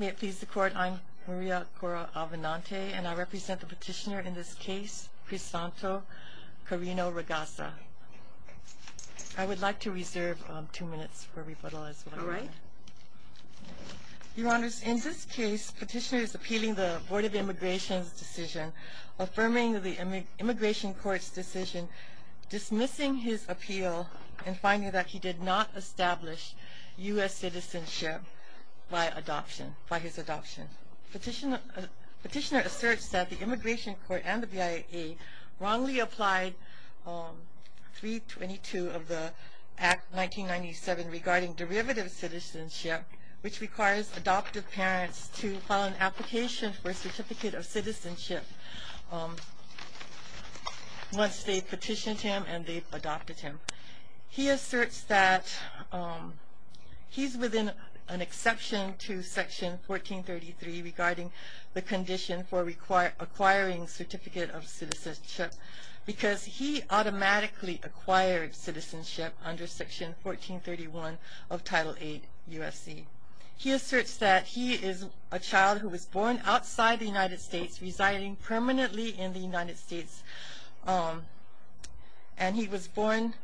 May it please the Court, I'm Maria Cora Alvinante, and I represent the petitioner in this case, Crisanto Carino Ragasa. I would like to reserve two minutes for rebuttal as well. All right. Your Honors, in this case, the petitioner is appealing the Board of Immigration's decision, affirming the Immigration Court's decision, dismissing his appeal, and finding that he did not establish U.S. citizenship by adoption, by his adoption. Petitioner asserts that the Immigration Court and the BIA wrongly applied 322 of the Act 1997 regarding derivative citizenship, which requires adoptive parents to file an application for a Certificate of Citizenship once they've petitioned him and they've adopted him. He asserts that he's within an exception to Section 1433 regarding the condition for acquiring Certificate of Citizenship because he automatically acquired citizenship under Section 1431 of Title VIII U.S.C. He asserts that he is a child who was born outside the United States, residing permanently in the United States, and he was born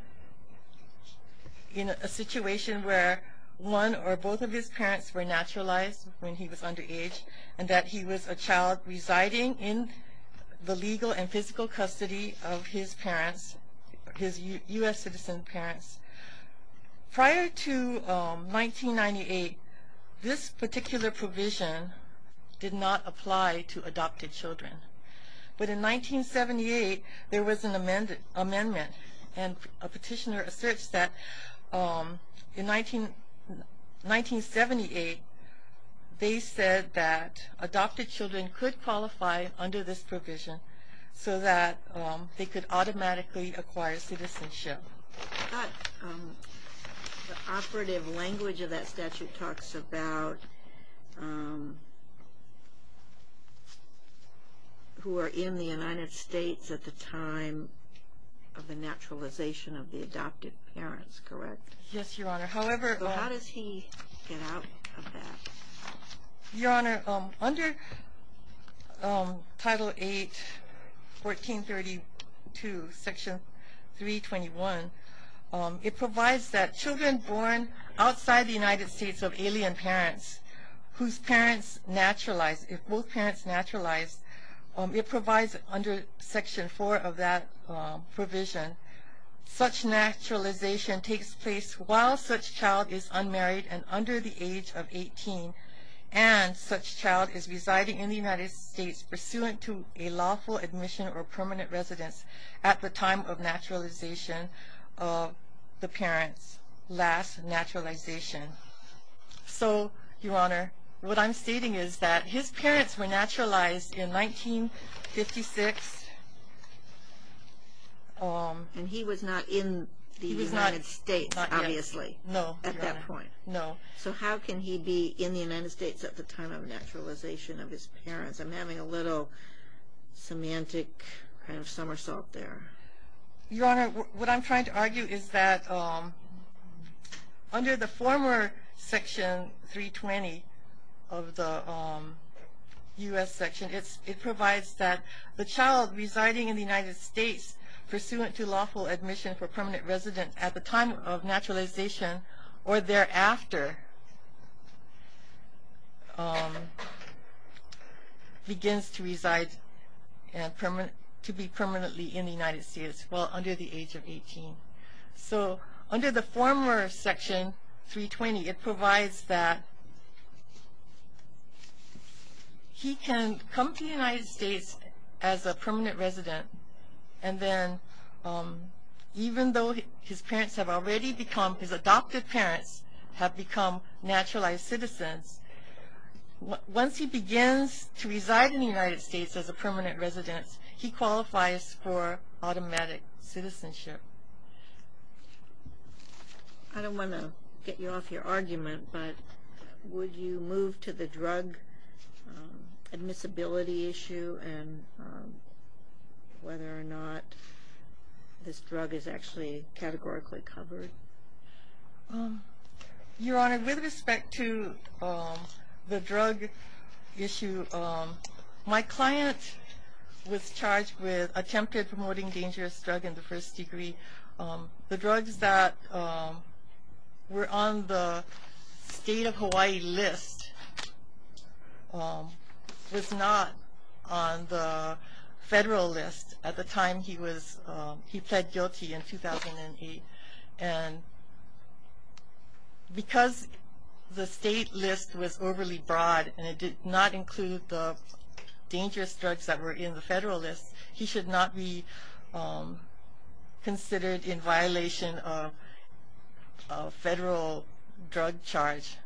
in a situation where one or both of his parents were naturalized when he was underage, and that he was a child residing in the legal and physical custody of his parents, his U.S. citizen parents. Prior to 1998, this particular provision did not apply to adopted children. But in 1978, there was an amendment, and a petitioner asserts that in 1978, they said that adopted children could qualify under this provision so that they could automatically acquire citizenship. The operative language of that statute talks about who are in the United States at the time of the naturalization of the adopted parents, correct? Yes, Your Honor. How does he get out of that? Your Honor, under Title VIII, 1432, Section 321, it provides that children born outside the United States of alien parents, whose parents naturalized, if both parents naturalized, it provides under Section 4 of that provision, such naturalization takes place while such child is unmarried and under the age of 18, and such child is residing in the United States pursuant to a lawful admission or permanent residence at the time of naturalization of the parents' last naturalization. So, Your Honor, what I'm stating is that his parents were naturalized in 1956. And he was not in the United States, obviously, at that point. No, Your Honor, no. So how can he be in the United States at the time of naturalization of his parents? I'm having a little semantic kind of somersault there. Your Honor, what I'm trying to argue is that under the former Section 320 of the U.S. section, it provides that the child residing in the United States pursuant to lawful admission for permanent residence at the time of naturalization or thereafter begins to reside and to be permanently in the United States while under the age of 18. So under the former Section 320, it provides that he can come to the United States as a permanent resident, and then even though his parents have already become, his adopted parents have become naturalized citizens, once he begins to reside in the United States as a permanent resident, he qualifies for automatic citizenship. I don't want to get you off your argument, but would you move to the drug admissibility issue and whether or not this drug is actually categorically covered? Your Honor, with respect to the drug issue, my client was charged with attempted promoting dangerous drug in the first degree. The drugs that were on the State of Hawaii list was not on the federal list at the time he was, he pled guilty in 2008. And because the state list was overly broad and it did not include the dangerous drugs that were in the federal list, he should not be considered in violation of federal drug charge.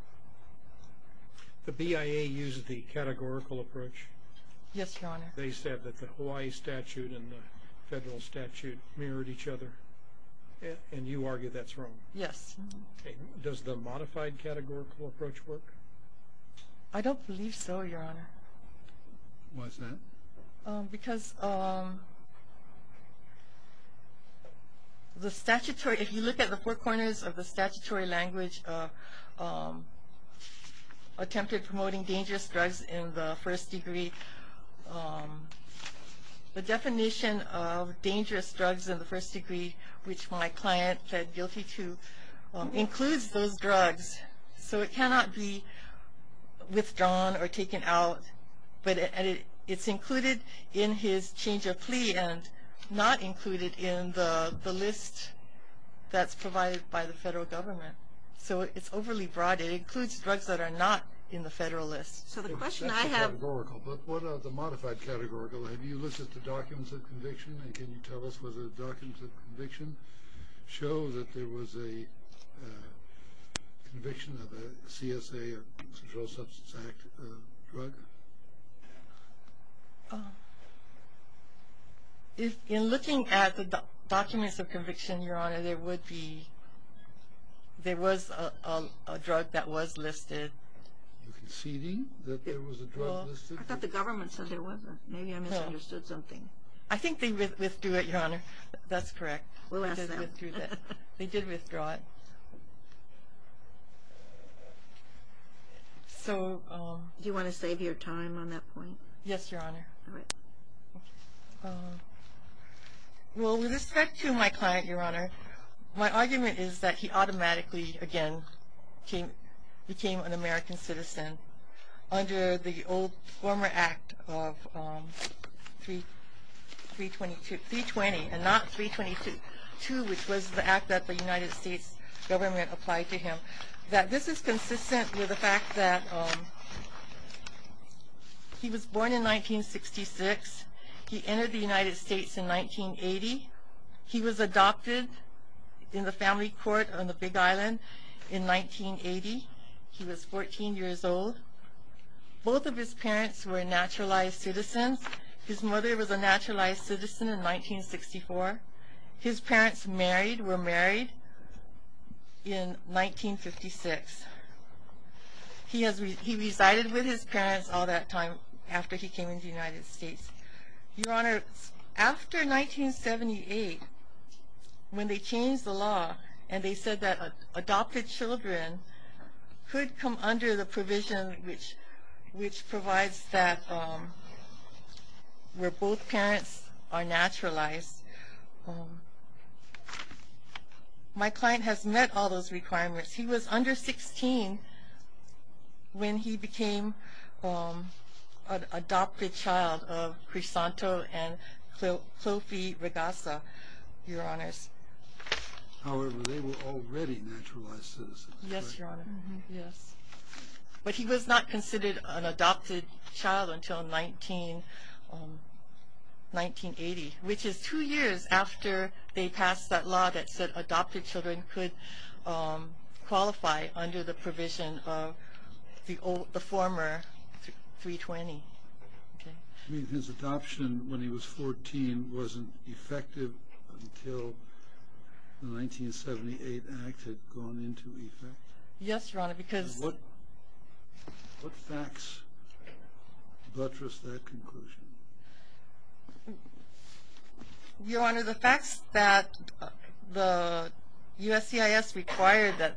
The BIA used the categorical approach? Yes, Your Honor. They said that the Hawaii statute and the federal statute mirrored each other? And you argue that's wrong? Yes. Does the modified categorical approach work? I don't believe so, Your Honor. Why is that? Because the statutory, if you look at the four corners of the statutory language, attempted promoting dangerous drugs in the first degree, the definition of dangerous drugs in the first degree, which my client pled guilty to, includes those drugs. So it cannot be withdrawn or taken out, but it's included in his change of plea and not included in the list that's provided by the federal government. So it's overly broad. It includes drugs that are not in the federal list. So the question I have That's the categorical, but what are the modified categorical? Have you listed the documents of conviction? And can you tell us whether the documents of conviction show that there was a conviction of a CSA or Central Substance Act drug? In looking at the documents of conviction, Your Honor, there was a drug that was listed. You conceding that there was a drug listed? I thought the government said there wasn't. Maybe I misunderstood something. I think they withdrew it, Your Honor. That's correct. We'll ask them. They did withdraw it. So Do you want to save your time on that point? Yes, Your Honor. All right. Well, with respect to my client, Your Honor, my argument is that he automatically, again, became an American citizen under the old former act of 320 and not 322, which was the act that the United States government applied to him, that this is consistent with the fact that he was born in 1966. He entered the United States in 1980. He was adopted in the family court on the Big Island in 1980. He was 14 years old. Both of his parents were naturalized citizens. His mother was a naturalized citizen in 1964. His parents were married in 1956. He resided with his parents all that time after he came into the United States. Your Honor, after 1978, when they changed the law and they said that adopted children could come under the provision which provides that where both parents are naturalized, my client has met all those requirements. He was under 16 when he became an adopted child of Crisanto and Cloppy Regassa, Your Honors. However, they were already naturalized citizens. Yes, Your Honor. Yes. But he was not considered an adopted child until 1980, which is two years after they passed that law that said adopted children could qualify under the provision of the former 320. You mean his adoption when he was 14 wasn't effective until the 1978 Act had gone into effect? Yes, Your Honor. What facts buttressed that conclusion? Your Honor, the facts that the USCIS required that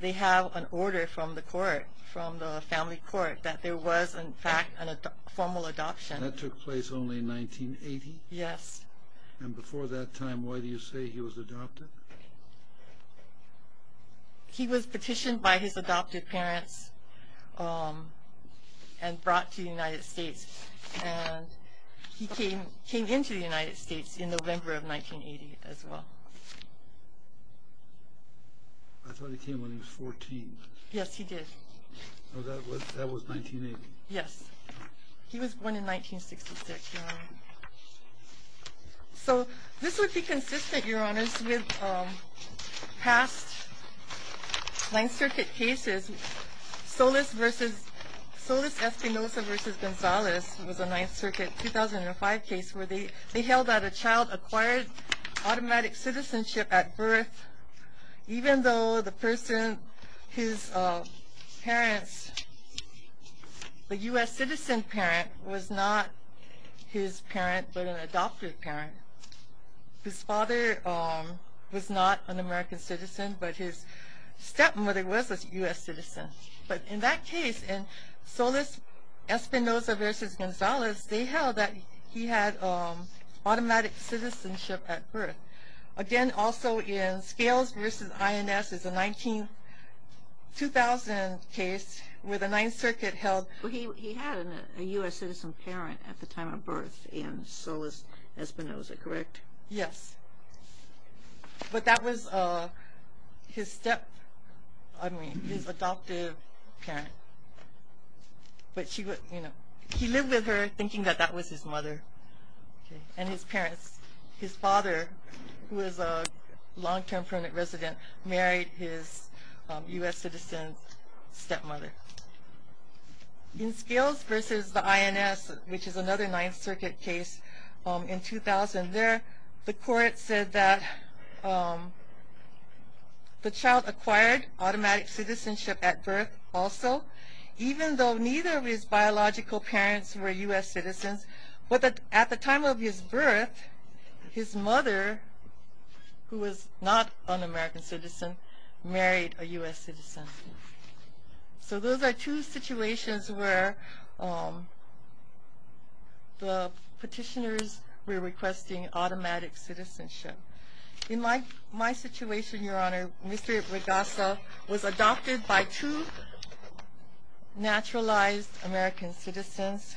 they have an order from the court, from the family court, that there was, in fact, a formal adoption. That took place only in 1980? Yes. And before that time, why do you say he was adopted? He was petitioned by his adopted parents and brought to the United States. And he came into the United States in November of 1980 as well. I thought he came when he was 14. Yes, he did. Oh, that was 1980? Yes. He was born in 1966, Your Honor. So this would be consistent, Your Honors, with past Ninth Circuit cases. Solis-Espinosa v. Gonzalez was a Ninth Circuit 2005 case where they held that a child acquired automatic citizenship at birth even though the person, his parents, the U.S. citizen parent was not his parent but an adopted parent. His father was not an American citizen, but his stepmother was a U.S. citizen. But in that case, in Solis-Espinosa v. Gonzalez, Again, also in Scales v. INS is a 2000 case where the Ninth Circuit held He had a U.S. citizen parent at the time of birth in Solis-Espinosa, correct? Yes. But that was his adoptive parent. But he lived with her thinking that that was his mother and his parents. His father, who was a long-term permanent resident, married his U.S. citizen stepmother. In Scales v. INS, which is another Ninth Circuit case in 2000 there, the court said that the child acquired automatic citizenship at birth also even though neither of his biological parents were U.S. citizens. But at the time of his birth, his mother, who was not an American citizen, married a U.S. citizen. So those are two situations where the petitioners were requesting automatic citizenship. In my situation, Your Honor, Mr. Rigasa was adopted by two naturalized American citizens.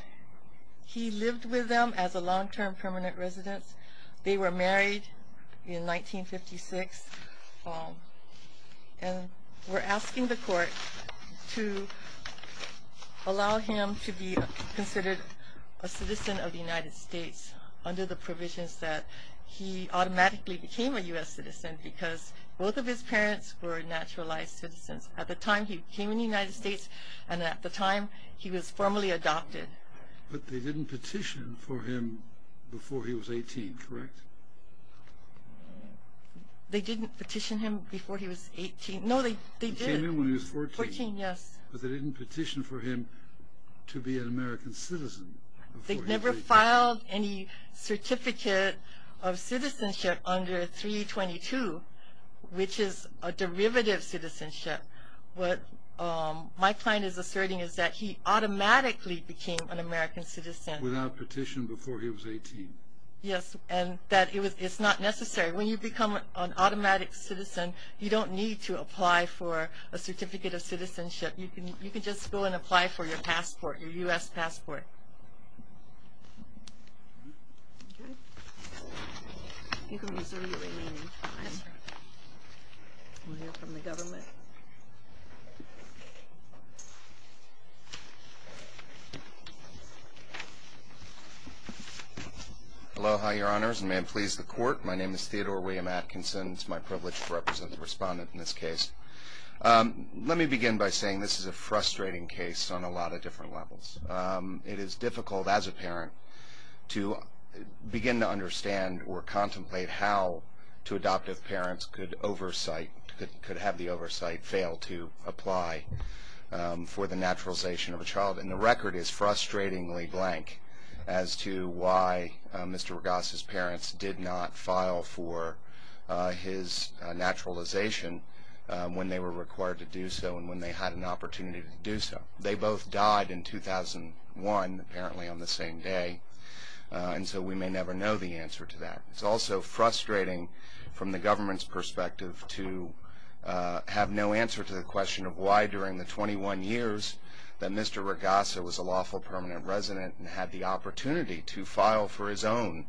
He lived with them as a long-term permanent resident. They were married in 1956 and were asking the court to allow him to be considered a citizen of the United States under the provisions that he automatically became a U.S. citizen because both of his parents were naturalized citizens. At the time he came in the United States and at the time he was formally adopted. But they didn't petition for him before he was 18, correct? They didn't petition him before he was 18. No, they did. He came in when he was 14. 14, yes. But they didn't petition for him to be an American citizen before he was 18. They never filed any certificate of citizenship under 322, which is a derivative citizenship. What my client is asserting is that he automatically became an American citizen. Without petition before he was 18. Yes, and that it's not necessary. When you become an automatic citizen, you don't need to apply for a certificate of citizenship. You can just go and apply for your passport, your U.S. passport. Aloha, your honors, and may it please the court. My name is Theodore William Atkinson. It's my privilege to represent the respondent in this case. Let me begin by saying this is a frustrating case on a lot of different levels. It is difficult as a parent to begin to understand or contemplate how two adoptive parents could oversight, could have the oversight, fail to apply for the naturalization of a child. And the record is frustratingly blank as to why Mr. Ragasse's parents did not file for his naturalization when they were required to do so and when they had an opportunity to do so. They both died in 2001, apparently on the same day. And so we may never know the answer to that. It's also frustrating from the government's perspective to have no answer to the question of why during the 21 years that Mr. Ragasse was a lawful permanent resident and had the opportunity to file for his own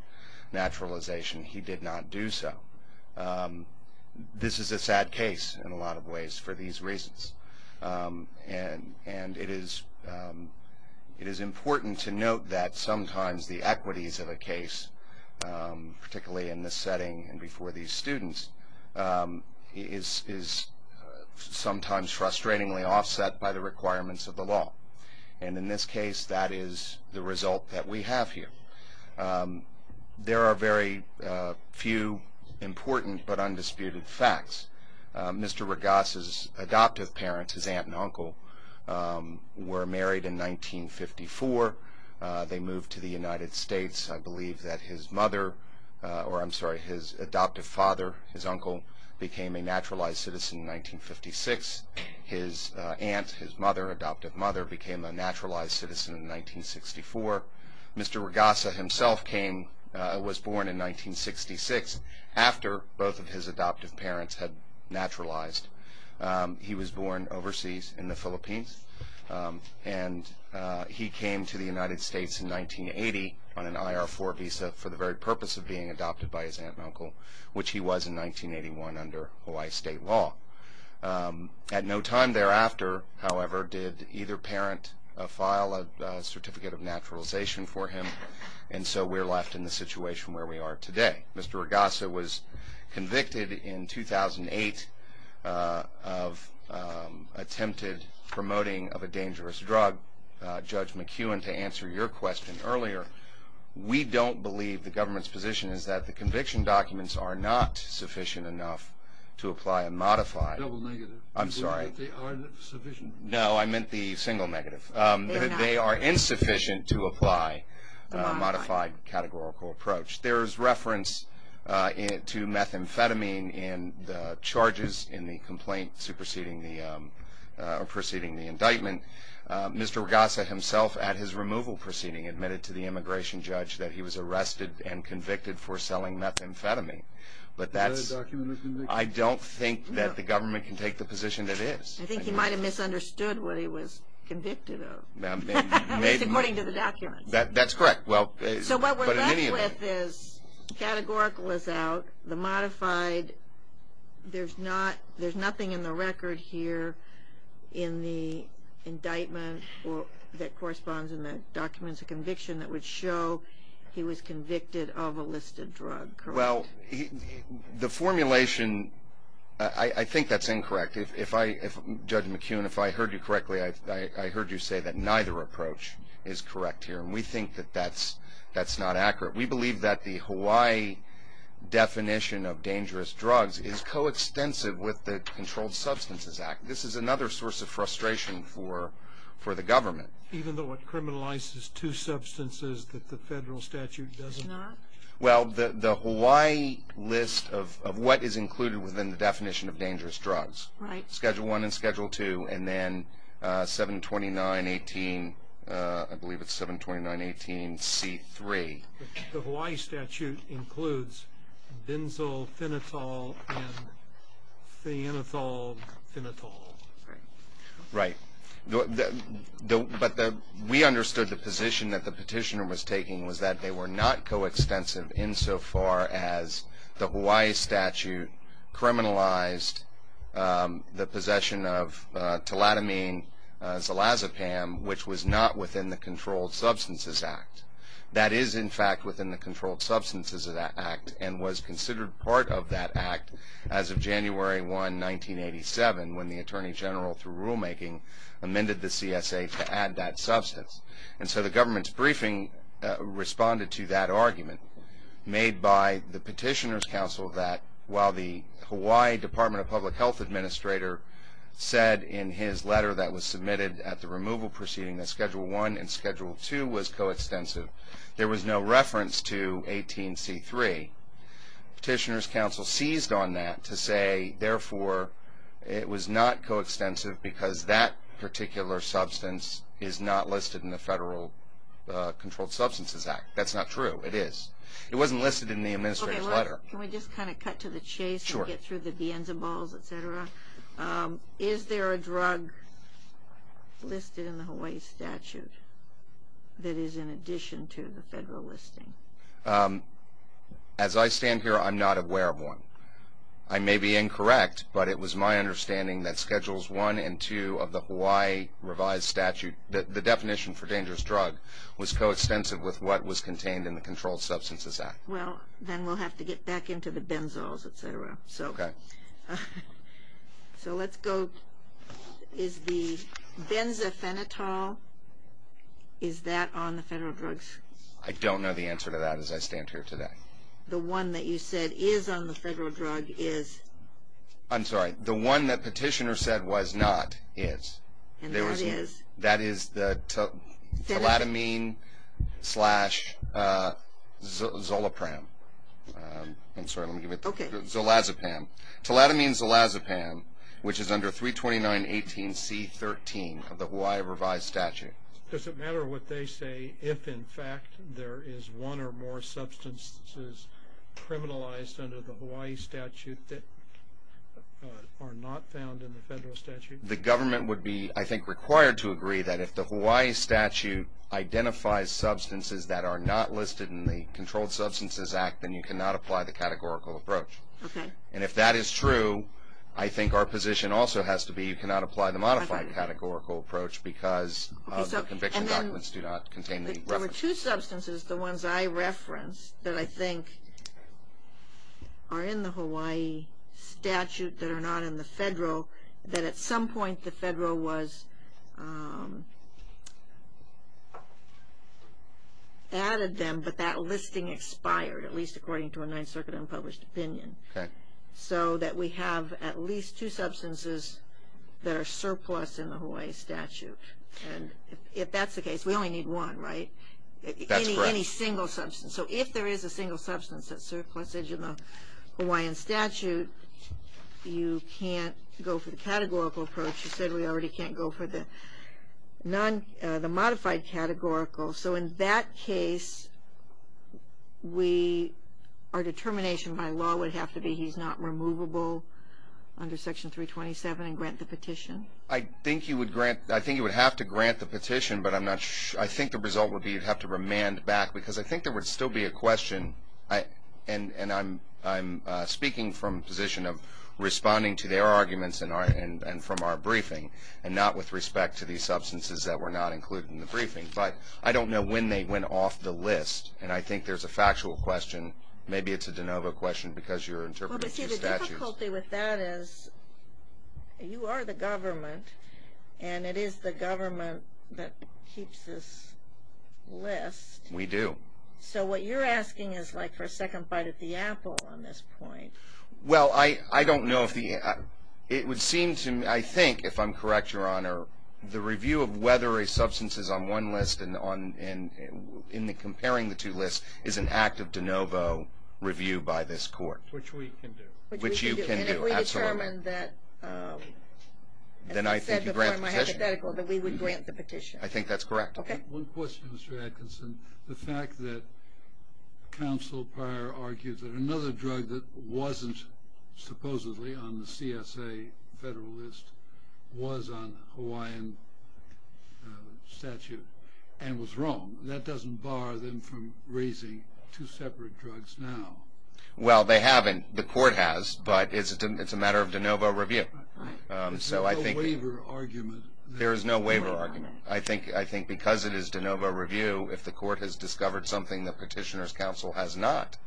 naturalization, he did not do so. This is a sad case in a lot of ways for these reasons. And it is important to note that sometimes the equities of a case, particularly in this setting and before these students, is sometimes frustratingly offset by the requirements of the law. And in this case, that is the result that we have here. There are very few important but undisputed facts. Mr. Ragasse's adoptive parents, his aunt and uncle, were married in 1954. They moved to the United States. I believe that his adoptive father, his uncle, became a naturalized citizen in 1956. His aunt, his adoptive mother, became a naturalized citizen in 1964. Mr. Ragasse himself was born in 1966. After both of his adoptive parents had naturalized, he was born overseas in the Philippines. And he came to the United States in 1980 on an IR-4 visa for the very purpose of being adopted by his aunt and uncle, which he was in 1981 under Hawaii state law. At no time thereafter, however, did either parent file a certificate of naturalization for him, and so we're left in the situation where we are today. Mr. Ragasse was convicted in 2008 of attempted promoting of a dangerous drug. Judge McEwen, to answer your question earlier, we don't believe the government's position is that the conviction documents are not sufficient enough to apply a modified- Double negative. I'm sorry. You mean that they aren't sufficient? No, I meant the single negative. They are insufficient to apply a modified categorical approach. There is reference to methamphetamine in the charges in the complaint preceding the indictment. Mr. Ragasse himself, at his removal proceeding, admitted to the immigration judge that he was arrested and convicted for selling methamphetamine. But that's- Is that a document of conviction? I don't think that the government can take the position that it is. I think he might have misunderstood what he was convicted of, according to the documents. That's correct. So what we're left with is, categorical is out, the modified, there's nothing in the record here in the indictment that corresponds in the documents of conviction that would show he was convicted of a listed drug, correct? Well, the formulation, I think that's incorrect. Judge McEwen, if I heard you correctly, I heard you say that neither approach is correct here. And we think that that's not accurate. We believe that the Hawaii definition of dangerous drugs is coextensive with the Controlled Substances Act. This is another source of frustration for the government. Even though it criminalizes two substances that the federal statute doesn't- It's not? Well, the Hawaii list of what is included within the definition of dangerous drugs, Schedule 1 and Schedule 2, and then 729.18, I believe it's 729.18C3. The Hawaii statute includes benzophenitol and phenethylphenitol. Right. But we understood the position that the petitioner was taking was that they were not coextensive insofar as the Hawaii statute criminalized the possession of teletomine, zolazepam, which was not within the Controlled Substances Act. That is, in fact, within the Controlled Substances Act and was considered part of that act as of January 1, 1987, when the Attorney General, through rulemaking, amended the CSA to add that substance. And so the government's briefing responded to that argument made by the petitioner's counsel that while the Hawaii Department of Public Health administrator said in his letter that was submitted at the removal proceeding that Schedule 1 and Schedule 2 was coextensive, there was no reference to 18C3. Petitioner's counsel seized on that to say, therefore, it was not coextensive because that particular substance is not listed in the Federal Controlled Substances Act. That's not true. It is. It wasn't listed in the administrator's letter. Okay. Can we just kind of cut to the chase and get through the beans and balls, et cetera? Is there a drug listed in the Hawaii statute that is in addition to the federal listing? As I stand here, I'm not aware of one. I may be incorrect, but it was my understanding that Schedules 1 and 2 of the Hawaii revised statute, the definition for dangerous drug, was coextensive with what was contained in the Controlled Substances Act. Well, then we'll have to get back into the benzos, et cetera. Okay. So let's go. Is the benzophenetol, is that on the federal drugs? I don't know the answer to that as I stand here today. The one that you said is on the federal drug is? I'm sorry. The one that Petitioner said was not is. And that is? That is the teletamine-slash-zolopram. I'm sorry. Let me give it to you. Okay. Zolazepam. Teletamine-zolazepam, which is under 329.18.C.13 of the Hawaii revised statute. Does it matter what they say if, in fact, there is one or more substances criminalized under the Hawaii statute that are not found in the federal statute? The government would be, I think, required to agree that if the Hawaii statute identifies substances that are not listed in the Controlled Substances Act, then you cannot apply the categorical approach. Okay. And if that is true, I think our position also has to be you cannot apply the modified categorical approach because the conviction documents do not contain the reference. There are two substances, the ones I referenced, that I think are in the Hawaii statute that are not in the federal, that at some point the federal was added them, but that listing expired, at least according to a Ninth Circuit unpublished opinion. Okay. So that we have at least two substances that are surplus in the Hawaii statute. And if that's the case, we only need one, right? That's correct. Any single substance. So if there is a single substance that's surplus in the Hawaiian statute, you can't go for the categorical approach. You said we already can't go for the modified categorical. So in that case, our determination by law would have to be he's not removable under Section 327 and grant the petition. I think you would have to grant the petition, but I think the result would be you'd have to remand back because I think there would still be a question, and I'm speaking from a position of responding to their arguments and from our briefing and not with respect to these substances that were not included in the briefing. But I don't know when they went off the list, and I think there's a factual question. Maybe it's a de novo question because you're interpreting two statutes. Well, but see, the difficulty with that is you are the government, and it is the government that keeps this list. We do. So what you're asking is like for a second bite at the apple on this point. Well, I don't know if the – it would seem to me, I think, if I'm correct, Your Honor, the review of whether a substance is on one list and comparing the two lists is an act of de novo review by this court. Which we can do. Which you can do, absolutely. And if we determine that, as I said before, my hypothetical, that we would grant the petition. I think that's correct. Okay. One question, Mr. Atkinson. The fact that counsel Pryor argues that another drug that wasn't supposedly on the CSA federal list was on Hawaiian statute and was wrong. That doesn't bar them from raising two separate drugs now. Well, they haven't. The court has, but it's a matter of de novo review. Right. Is there a waiver argument? There is no waiver argument. I think because it is de novo review, if the court has discovered something the petitioner's counsel has not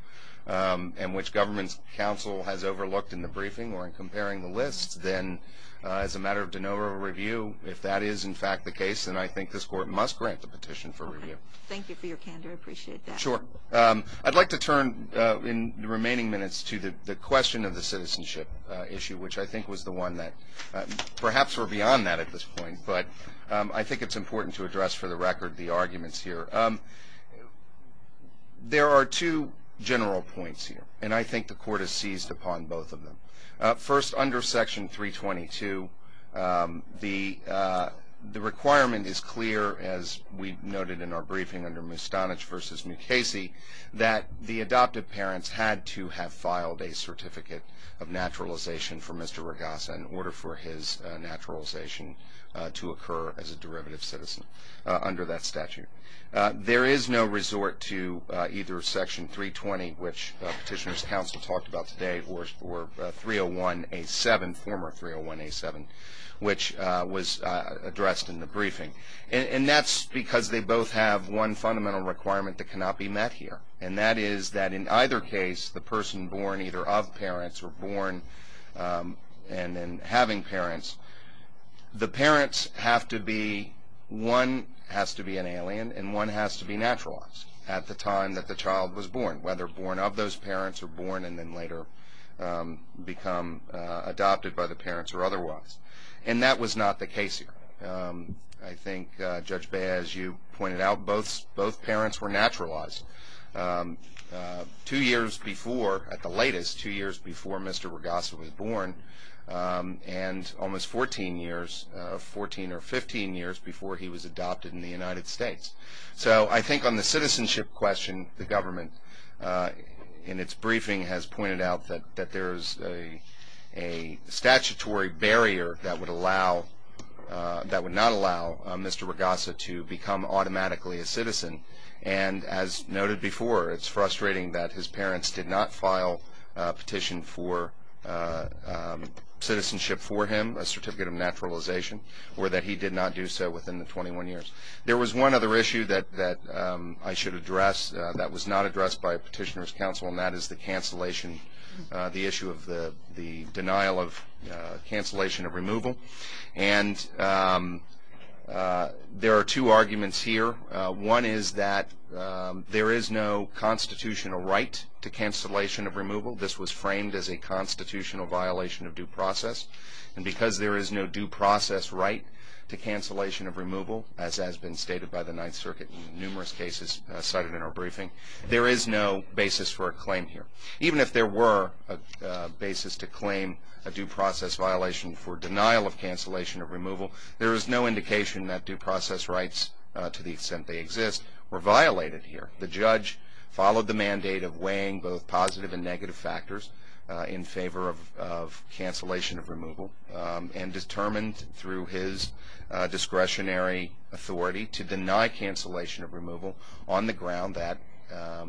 and which government's counsel has overlooked in the briefing or in comparing the lists, then as a matter of de novo review, if that is, in fact, the case, then I think this court must grant the petition for review. Thank you for your candor. I appreciate that. Sure. I'd like to turn in the remaining minutes to the question of the citizenship issue, which I think was the one that perhaps were beyond that at this point. But I think it's important to address, for the record, the arguments here. There are two general points here, and I think the court has seized upon both of them. First, under Section 322, the requirement is clear, as we noted in our briefing under Mustanich v. Mukasey, that the adoptive parents had to have filed a certificate of naturalization for Mr. Ragasa in order for his naturalization to occur as a derivative citizen under that statute. There is no resort to either Section 320, which the petitioner's counsel talked about today, or 301A7, former 301A7, which was addressed in the briefing. And that's because they both have one fundamental requirement that cannot be met here, and that is that in either case the person born either of parents or born and then having parents, the parents have to be, one has to be an alien and one has to be naturalized at the time that the child was born, whether born of those parents or born and then later become adopted by the parents or otherwise. And that was not the case here. I think, Judge Bey, as you pointed out, both parents were naturalized two years before, at the latest, two years before Mr. Ragasa was born and almost 14 years, 14 or 15 years, before he was adopted in the United States. So I think on the citizenship question, the government, in its briefing, has pointed out that there is a statutory barrier that would allow, that would not allow Mr. Ragasa to become automatically a citizen. And as noted before, it's frustrating that his parents did not file a petition for citizenship for him, a certificate of naturalization, or that he did not do so within the 21 years. There was one other issue that I should address that was not addressed by a petitioner's counsel, and that is the cancellation, the issue of the denial of cancellation of removal. And there are two arguments here. One is that there is no constitutional right to cancellation of removal. This was framed as a constitutional violation of due process. And because there is no due process right to cancellation of removal, as has been stated by the Ninth Circuit in numerous cases cited in our briefing, there is no basis for a claim here. Even if there were a basis to claim a due process violation for denial of cancellation of removal, there is no indication that due process rights, to the extent they exist, were violated here. The judge followed the mandate of weighing both positive and negative factors in favor of cancellation of removal, and determined through his discretionary authority to deny cancellation of removal on the ground that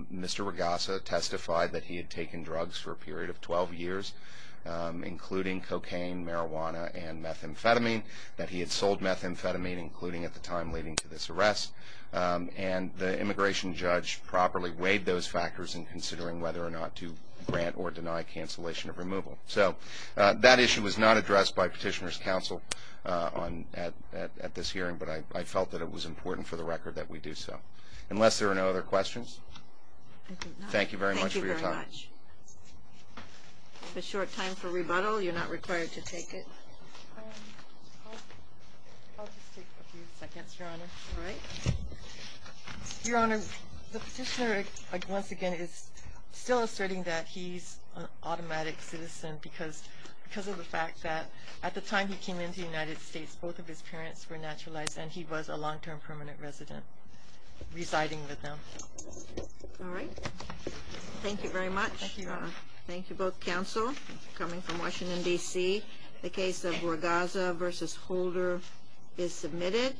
Mr. Regassa testified that he had taken drugs for a period of 12 years, including cocaine, marijuana, and methamphetamine, that he had sold methamphetamine, including at the time leading to this arrest. And the immigration judge properly weighed those factors in considering whether or not to grant or deny cancellation of removal. So that issue was not addressed by petitioner's counsel at this hearing, but I felt that it was important for the record that we do so. Unless there are no other questions, thank you very much for your time. Thank you very much. A short time for rebuttal. You're not required to take it. I'll just take a few seconds, Your Honor. All right. Your Honor, the petitioner, once again, is still asserting that he's an automatic citizen because of the fact that at the time he came into the United States, both of his parents were naturalized, and he was a long-term permanent resident residing with them. All right. Thank you very much. Thank you, Your Honor. Thank you both counsel, coming from Washington, D.C. The case of Regassa v. Holder is submitted.